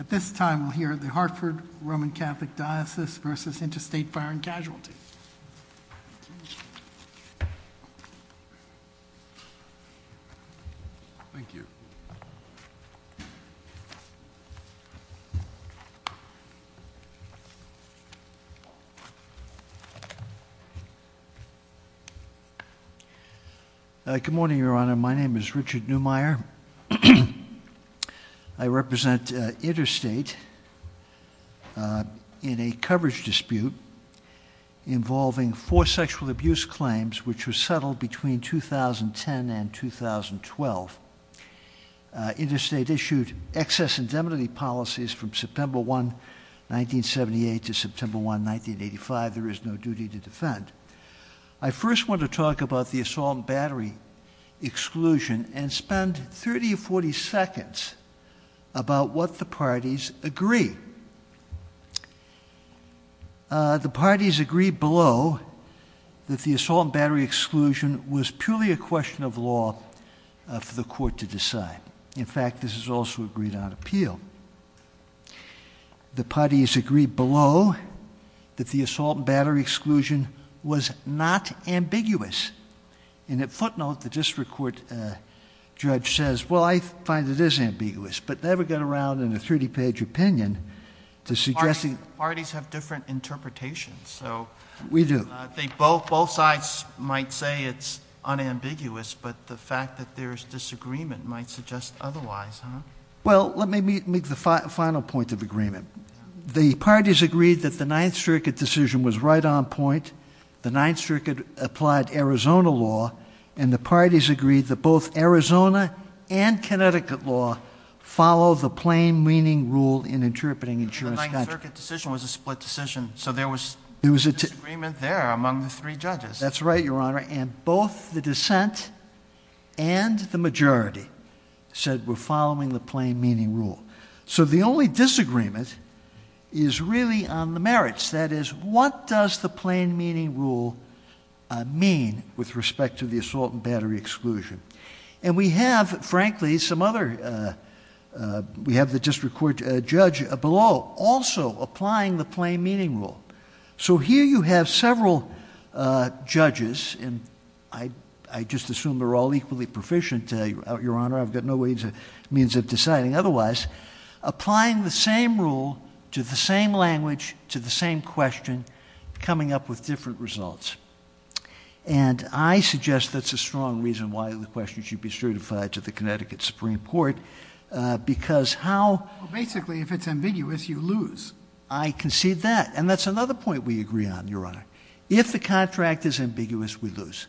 At this time, we'll hear the Hartford Roman Catholic Diocese versus Interstate Fire and Casualty. Thank you. Good morning, Your Honor. My name is Richard Neumeyer. I represent Interstate in a coverage dispute involving four sexual abuse claims which were settled between 2010 and 2012. Interstate issued excess indemnity policies from September 1, 1978 to September 1, 1985. There is no duty to defend. I first want to talk about the assault and battery exclusion and spend 30 or 40 seconds about what the parties agree. The parties agree below that the assault and battery exclusion was purely a question of law for the court to decide. In fact, this is also agreed on appeal. The parties agree below that the assault and battery exclusion was not ambiguous. And at footnote, the district court judge says, well, I find it is ambiguous, but never got around in a 30 page opinion to suggesting- Parties have different interpretations, so- We do. They both, both sides might say it's unambiguous, but the fact that there's disagreement might suggest otherwise, huh? Well, let me make the final point of agreement. The parties agreed that the Ninth Circuit decision was right on point. The Ninth Circuit applied Arizona law. And the parties agreed that both Arizona and Connecticut law follow the plain meaning rule in interpreting insurance- The Ninth Circuit decision was a split decision, so there was disagreement there among the three judges. That's right, Your Honor, and both the dissent and the majority said we're following the plain meaning rule. So the only disagreement is really on the merits. That is, what does the plain meaning rule mean with respect to the assault and battery exclusion? And we have, frankly, some other, we have the district court judge below also applying the plain meaning rule. So here you have several judges, and I just assume they're all equally proficient, Your Honor. I've got no means of deciding otherwise. Applying the same rule to the same language, to the same question, coming up with different results. And I suggest that's a strong reason why the question should be certified to the Connecticut Supreme Court, because how- Basically, if it's ambiguous, you lose. I concede that, and that's another point we agree on, Your Honor. If the contract is ambiguous, we lose.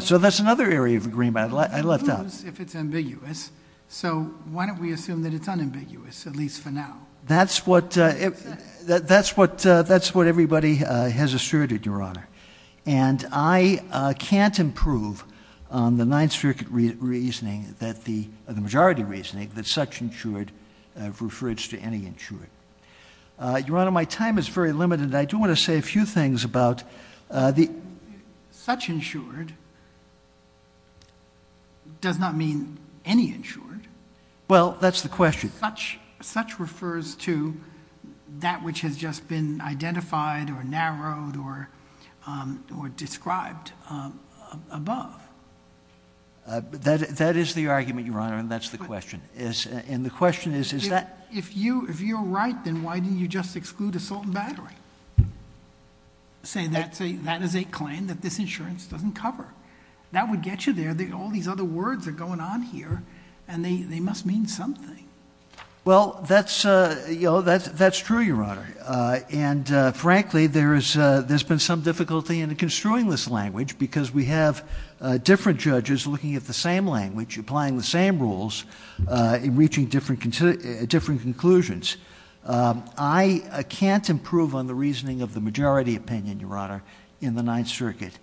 So that's another area of agreement I left out. If it's ambiguous, so why don't we assume that it's unambiguous, at least for now? That's what everybody has asserted, Your Honor. And I can't improve on the Ninth Circuit reasoning, the majority reasoning, that such insured refers to any insured. Your Honor, my time is very limited. I do want to say a few things about the- Such insured does not mean any insured. Well, that's the question. Such refers to that which has just been identified, or narrowed, or described above. That is the argument, Your Honor, and that's the question. And the question is, is that- If you're right, then why didn't you just exclude assault and battery? Say that is a claim that this insurance doesn't cover. That would get you there. All these other words are going on here, and they must mean something. Well, that's true, Your Honor. And frankly, there's been some difficulty in construing this language, because we have different judges looking at the same language, applying the same rules, and reaching different conclusions. I can't improve on the reasoning of the majority opinion, Your Honor, in the Ninth Circuit.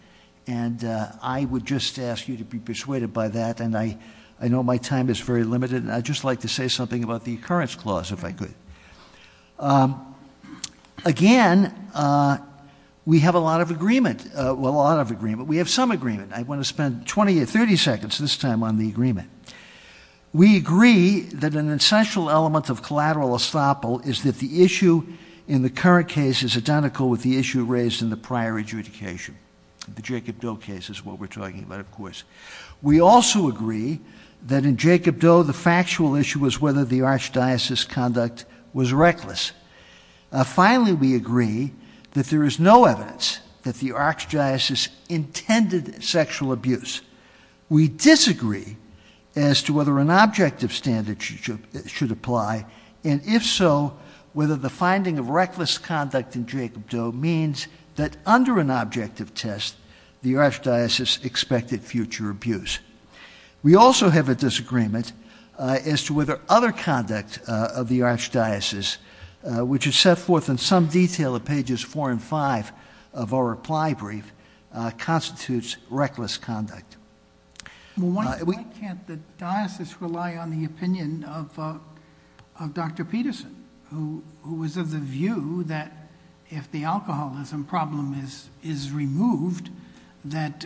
And I would just ask you to be persuaded by that, and I know my time is very limited. And I'd just like to say something about the occurrence clause, if I could. Again, we have a lot of agreement, well, a lot of agreement. We have some agreement. I want to spend 20 or 30 seconds this time on the agreement. We agree that an essential element of collateral estoppel is that the issue in the current case is identical with the issue raised in the prior adjudication. The Jacob Doe case is what we're talking about, of course. We also agree that in Jacob Doe, the factual issue was whether the archdiocese conduct was reckless. Finally, we agree that there is no evidence that the archdiocese intended sexual abuse. We disagree as to whether an objective standard should apply, and if so, whether the finding of reckless conduct in Jacob Doe means that under an objective test, the archdiocese expected future abuse. We also have a disagreement as to whether other conduct of the archdiocese, which is set forth in some detail in pages four and five of our reply brief, constitutes reckless conduct. Well, why can't the diocese rely on the opinion of Dr. Peterson, who was of the view that if the alcoholism problem is removed, that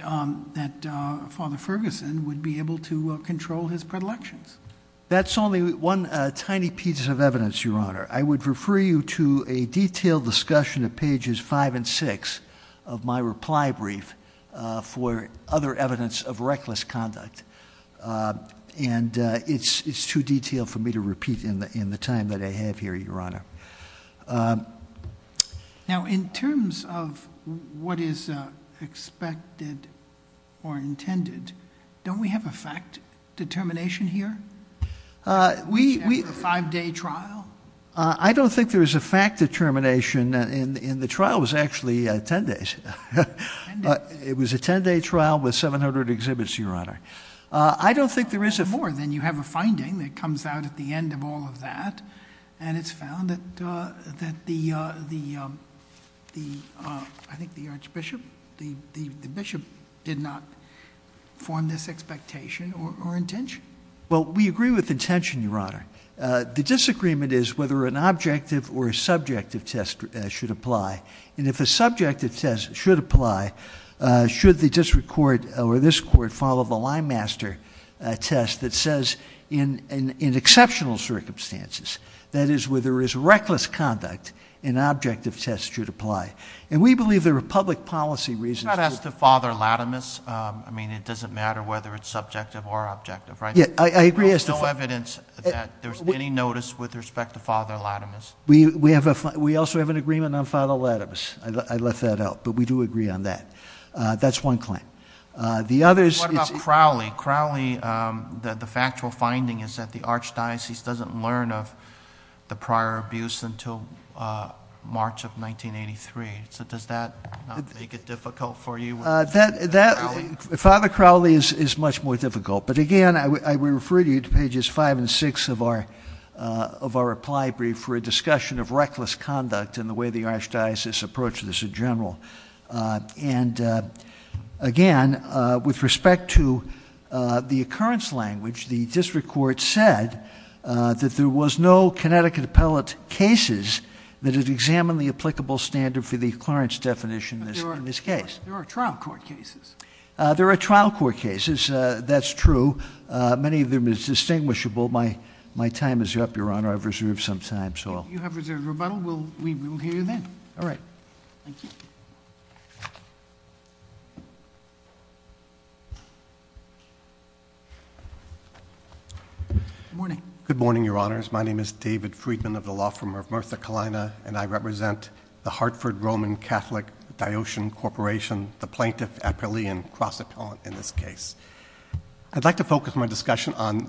Father Ferguson would be able to control his predilections? That's only one tiny piece of evidence, Your Honor. I would refer you to a detailed discussion of pages five and six of my reply brief for other evidence of reckless conduct. And it's too detailed for me to repeat in the time that I have here, Your Honor. Now, in terms of what is expected or intended, don't we have a fact determination here? We- A five day trial? I don't think there is a fact determination in the trial, it was actually ten days. Ten days. It was a ten day trial with 700 exhibits, Your Honor. I don't think there is a- Well, more than you have a finding that comes out at the end of all of that. And it's found that the, I think the archbishop, the bishop did not form this expectation or intention. Well, we agree with intention, Your Honor. The disagreement is whether an objective or a subjective test should apply. And if a subjective test should apply, should the district court or this court follow the line master test that says in exceptional circumstances, that is where there is reckless conduct, an objective test should apply. And we believe there are public policy reasons- It's not as to Father Latimus, I mean, it doesn't matter whether it's subjective or objective, right? Yeah, I agree as to- There's no evidence that there's any notice with respect to Father Latimus. We also have an agreement on Father Latimus, I left that out, but we do agree on that. That's one claim. The other is- What about Crowley? Crowley, the factual finding is that the archdiocese doesn't learn of the prior abuse until March of 1983. So does that make it difficult for you? Father Crowley is much more difficult. But again, I would refer you to pages five and six of our reply brief for a discussion of reckless conduct and the way the archdiocese approaches this in general. And again, with respect to the occurrence language, the district court said that there was no Connecticut appellate cases that had examined the applicable standard for the occurrence definition in this case. There are trial court cases. There are trial court cases, that's true. Many of them is distinguishable. My time is up, Your Honor. I've reserved some time, so- You have reserved rebuttal. We will hear you then. All right. Thank you. Good morning. Good morning, Your Honors. My name is David Friedman of the law firm of Martha Kalina, and I represent the Hartford Roman Catholic Diocean Corporation, the plaintiff appellee and cross appellant in this case. I'd like to focus my discussion on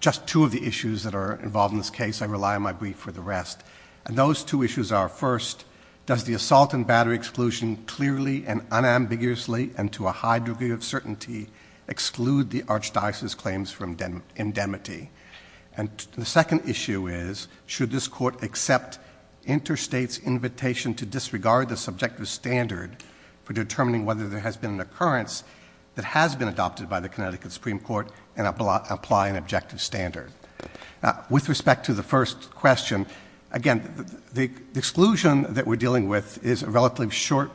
just two of the issues that are involved in this case. I rely on my brief for the rest. And those two issues are first, does the assault and battery exclusion clearly and unambiguously and to a high degree of certainty exclude the archdiocese's claims from indemnity? And the second issue is, should this court accept interstate's invitation to disregard the subjective standard for determining whether there has been an occurrence that has been adopted by the Connecticut Supreme Court and apply an objective standard? With respect to the first question, again, the exclusion that we're dealing with is a relatively short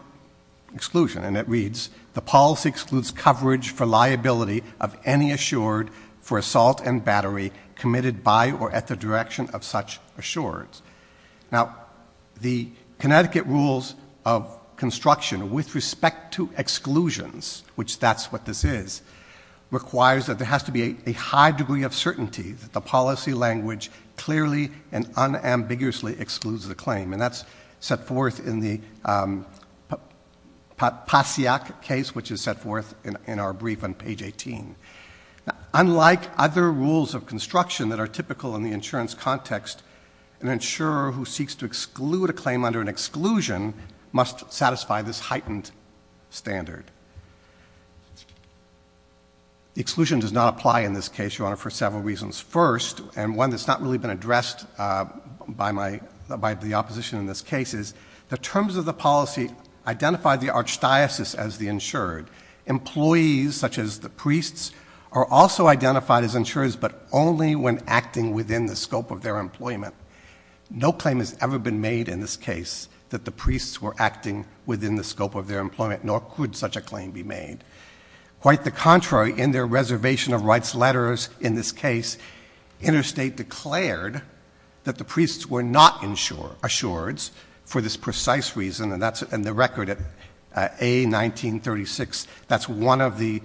exclusion. And it reads, the policy excludes coverage for liability of any assured for assault and battery committed by or at the direction of such assures. Now, the Connecticut rules of construction with respect to exclusions, which that's what this is, requires that there has to be a high degree of certainty that the policy language clearly and unambiguously excludes the claim. And that's set forth in the Pasiak case, which is set forth in our brief on page 18. Unlike other rules of construction that are typical in the insurance context, an insurer who seeks to exclude a claim under an exclusion must satisfy this heightened standard. The exclusion does not apply in this case, Your Honor, for several reasons. First, and one that's not really been addressed by the opposition in this case, is the terms of the policy identify the archdiocese as the insured. Employees, such as the priests, are also identified as insurers, but only when acting within the scope of their employment. No claim has ever been made in this case that the priests were acting within the scope of their employment, nor could such a claim be made. Quite the contrary, in their reservation of rights letters in this case, interstate declared that the priests were not insured, for this precise reason. And that's in the record at A1936, that's one of the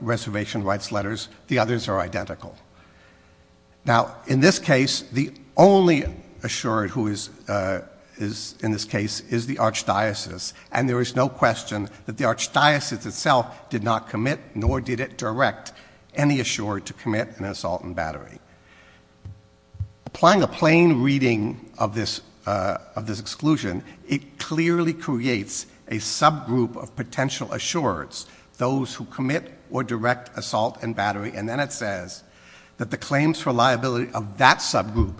reservation rights letters, the others are identical. Now, in this case, the only insured who is in this case is the archdiocese. And there is no question that the archdiocese itself did not commit, nor did it direct any insurer to commit an assault and battery. Applying a plain reading of this exclusion, it clearly creates a subgroup of potential insurers, those who commit or direct assault and battery. And then it says that the claims for liability of that subgroup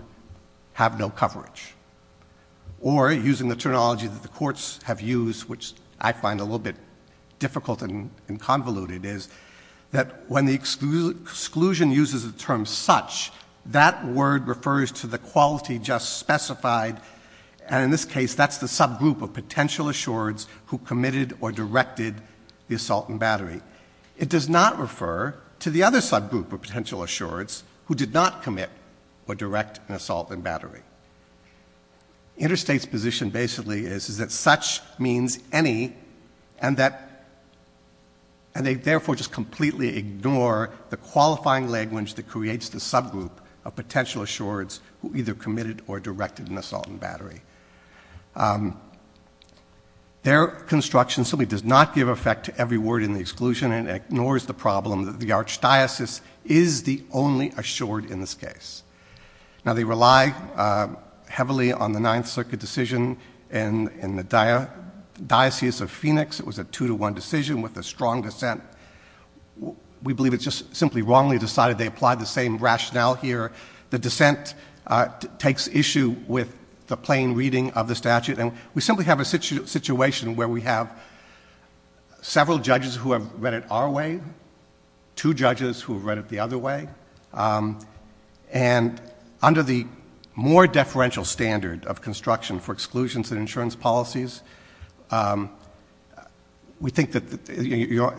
have no coverage. Or, using the terminology that the courts have used, which I find a little bit difficult and convoluted, is that when the exclusion uses the term such, that word refers to the quality just specified, and in this case, that's the subgroup of potential insurers who committed or directed the assault and battery. It does not refer to the other subgroup of potential insurers who did not commit or direct an assault and battery. Interstate's position basically is that such means any, and that they therefore just completely ignore the qualifying language that creates the subgroup of potential insurers who either committed or directed an assault and battery. Their construction simply does not give effect to every word in the exclusion and ignores the problem that the archdiocese is the only insured in this case. Now, they rely heavily on the Ninth Circuit decision in the Diocese of Phoenix. It was a two to one decision with a strong dissent. We believe it's just simply wrongly decided they applied the same rationale here. The dissent takes issue with the plain reading of the statute. And we simply have a situation where we have several judges who have read it our way, two judges who have read it the other way, and under the more deferential standard of construction for exclusions and insurance policies, we think that,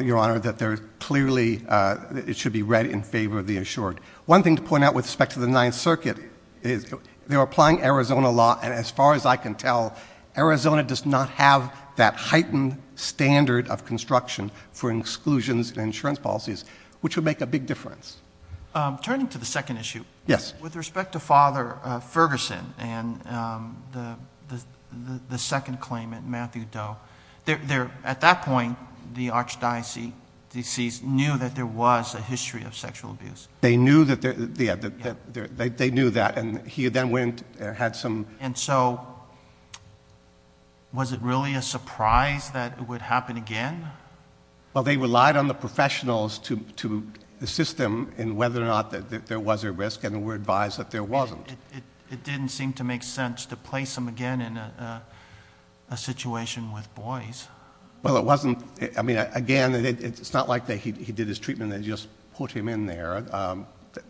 your honor, that they're clearly, it should be read in favor of the insured. One thing to point out with respect to the Ninth Circuit is they're applying Arizona law and as far as I can tell, Arizona does not have that heightened standard of construction for exclusions and insurance policies, which would make a big difference. Turning to the second issue. Yes. With respect to Father Ferguson and the second claimant, Matthew Doe, at that point, the archdiocese knew that there was a history of sexual abuse. They knew that, and he then went and had some. And so, was it really a surprise that it would happen again? Well, they relied on the professionals to assist them in whether or not there was a risk, and we're advised that there wasn't. It didn't seem to make sense to place him again in a situation with boys. Well, it wasn't, I mean, again, it's not like he did his treatment and they just put him in there.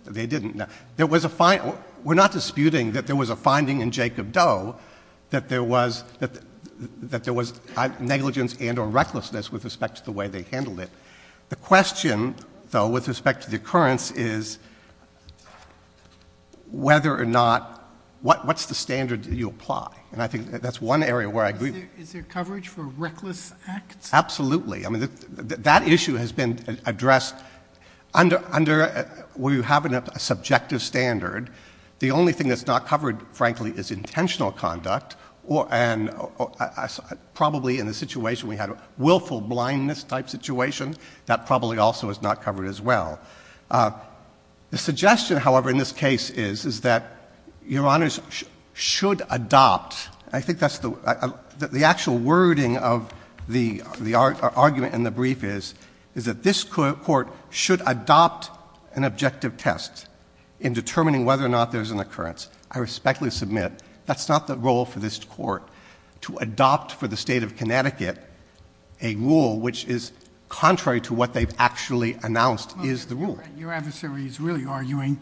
They didn't. There was a, we're not disputing that there was a finding in Jacob Doe, that there was negligence and or recklessness with respect to the way they handled it. The question, though, with respect to the occurrence is whether or not, what's the standard that you apply? And I think that's one area where I agree. Is there coverage for reckless acts? Absolutely. I mean, that issue has been addressed under where you have a subjective standard. The only thing that's not covered, frankly, is intentional conduct. And probably in the situation we had a willful blindness type situation, that probably also is not covered as well. The suggestion, however, in this case is that your honors should adopt, I think that's the actual wording of the argument in the brief is, is that this court should adopt an objective test in determining whether or not there's an occurrence. I respectfully submit that's not the role for this court to adopt for the state of Connecticut a rule which is contrary to what they've actually announced is the rule. Your adversary is really arguing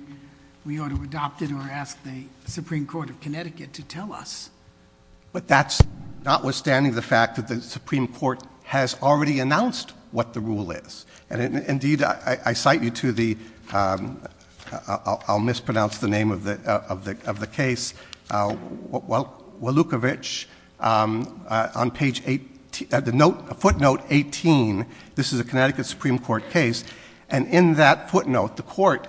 we ought to adopt it or ask the Supreme Court of Connecticut to tell us. But that's notwithstanding the fact that the Supreme Court has already announced what the rule is. And indeed, I cite you to the, I'll mispronounce the name of the case. Well, Wolukowicz on page 18, footnote 18. This is a Connecticut Supreme Court case. And in that footnote, the court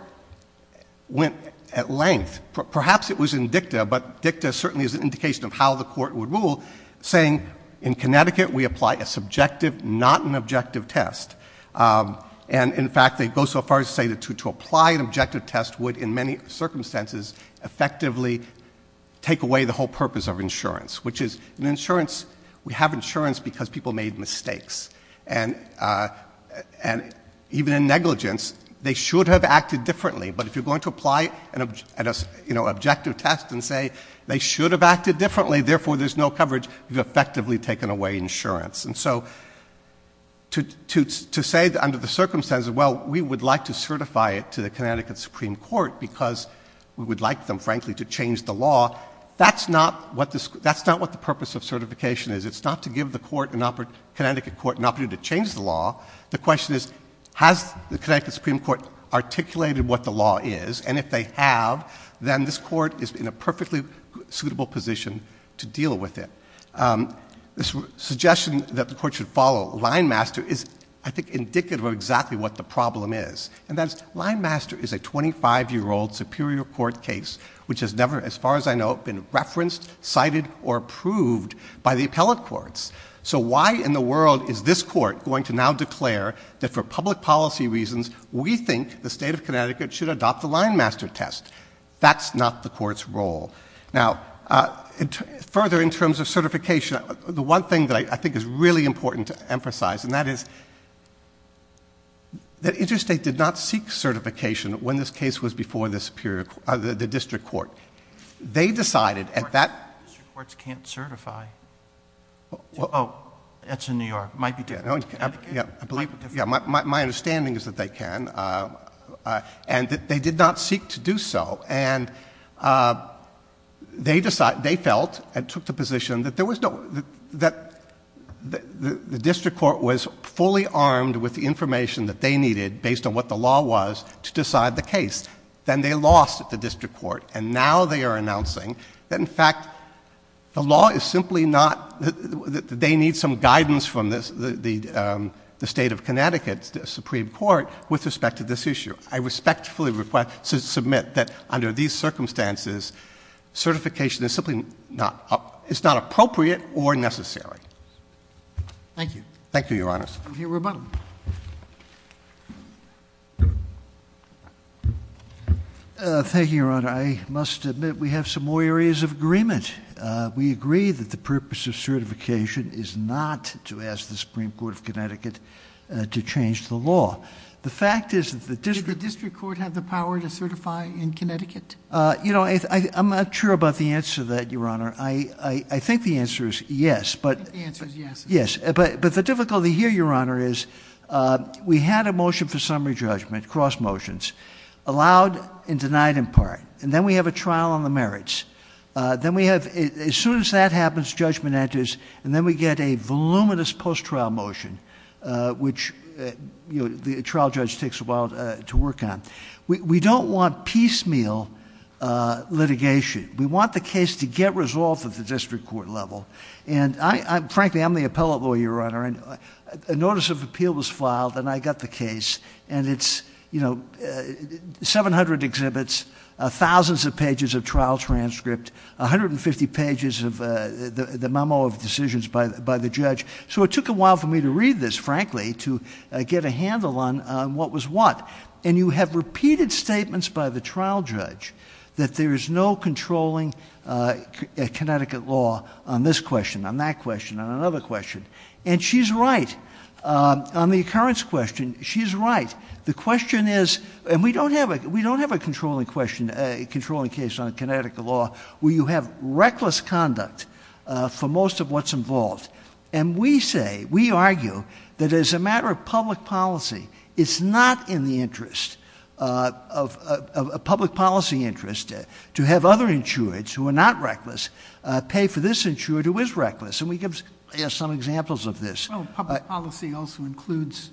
went at length, perhaps it was in dicta, but dicta certainly is an indication of how the court would rule, saying in Connecticut we apply a subjective, not an objective test. And in fact, they go so far as to say that to apply an objective test would, in many circumstances, effectively take away the whole purpose of insurance, which is an insurance. We have insurance because people made mistakes. And even in negligence, they should have acted differently. But if you're going to apply an objective test and say they should have acted differently, therefore there's no coverage, you've effectively taken away insurance. And so to say under the circumstances, well, we would like to certify it to the Connecticut Supreme Court because we would like them, frankly, to change the law. That's not what the purpose of certification is. It's not to give the Connecticut court an opportunity to change the law. The question is, has the Connecticut Supreme Court articulated what the law is? And if they have, then this court is in a perfectly suitable position to deal with it. This suggestion that the court should follow line master is, I think, indicative of exactly what the problem is. And that's line master is a 25 year old superior court case, which has never, as far as I know, been referenced, cited, or approved by the appellate courts. So why in the world is this court going to now declare that for public policy reasons, we think the state of Connecticut should adopt the line master test? That's not the court's role. Now, further in terms of certification, the one thing that I think is really important to emphasize, and that is that Interstate did not seek certification when this case was before the district court. They decided at that- District courts can't certify. It's in New York, might be different. Yeah, I believe, yeah, my understanding is that they can, and that they did not seek to do so. And they felt and took the position that there was no, that the district court was fully armed with the information that they needed based on what the law was to decide the case. Then they lost at the district court, and now they are announcing that in fact, the law is simply not, that they need some guidance from the state of Connecticut's Supreme Court with respect to this issue. I respectfully request to submit that under these circumstances, certification is simply not, it's not appropriate or necessary. Thank you. Thank you, your honors. We'll hear from Roboto. Thank you, your honor. I must admit we have some more areas of agreement. We agree that the purpose of certification is not to ask the Supreme Court of Connecticut to change the law. The fact is that the district- Did the district court have the power to certify in Connecticut? I'm not sure about the answer to that, your honor. I think the answer is yes, but- I think the answer is yes. Yes, but the difficulty here, your honor, is we had a motion for summary judgment, cross motions, allowed and denied in part, and then we have a trial on the merits. Then we have, as soon as that happens, judgment enters, and then we get a voluminous post-trial motion, which the trial judge takes a while to work on. We don't want piecemeal litigation. We want the case to get resolved at the district court level. And frankly, I'm the appellate lawyer, your honor, and a notice of appeal was filed, and I got the case. And it's 700 exhibits, thousands of pages of trial transcript, 150 pages of the memo of decisions by the judge. So it took a while for me to read this, frankly, to get a handle on what was what. And you have repeated statements by the trial judge that there is no controlling Connecticut law on this question, on that question, on another question. And she's right. On the occurrence question, she's right. The question is, and we don't have a controlling case on Connecticut law, where you have reckless conduct for most of what's involved. And we say, we argue, that as a matter of public policy, it's not in the interest of a public policy interest to have other insureds who are not reckless pay for this insured who is reckless. And we give some examples of this. Well, public policy also includes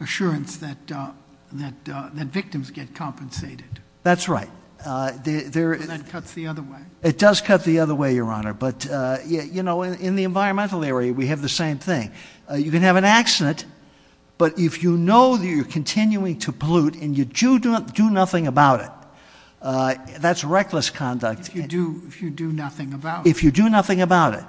assurance that victims get compensated. That's right. That cuts the other way. It does cut the other way, your honor. But in the environmental area, we have the same thing. You can have an accident, but if you know that you're continuing to pollute and you do nothing about it, that's reckless conduct. If you do nothing about it. If you do nothing about it.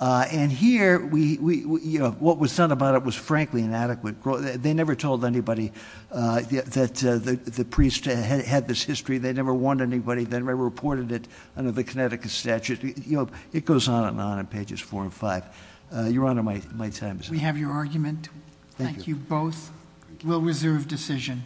And here, what was done about it was frankly inadequate. They never told anybody that the priest had this history. They never warned anybody. They never reported it under the Connecticut statute. It goes on and on on pages four and five. Your honor, my time is up. We have your argument. Thank you both. We'll reserve decision.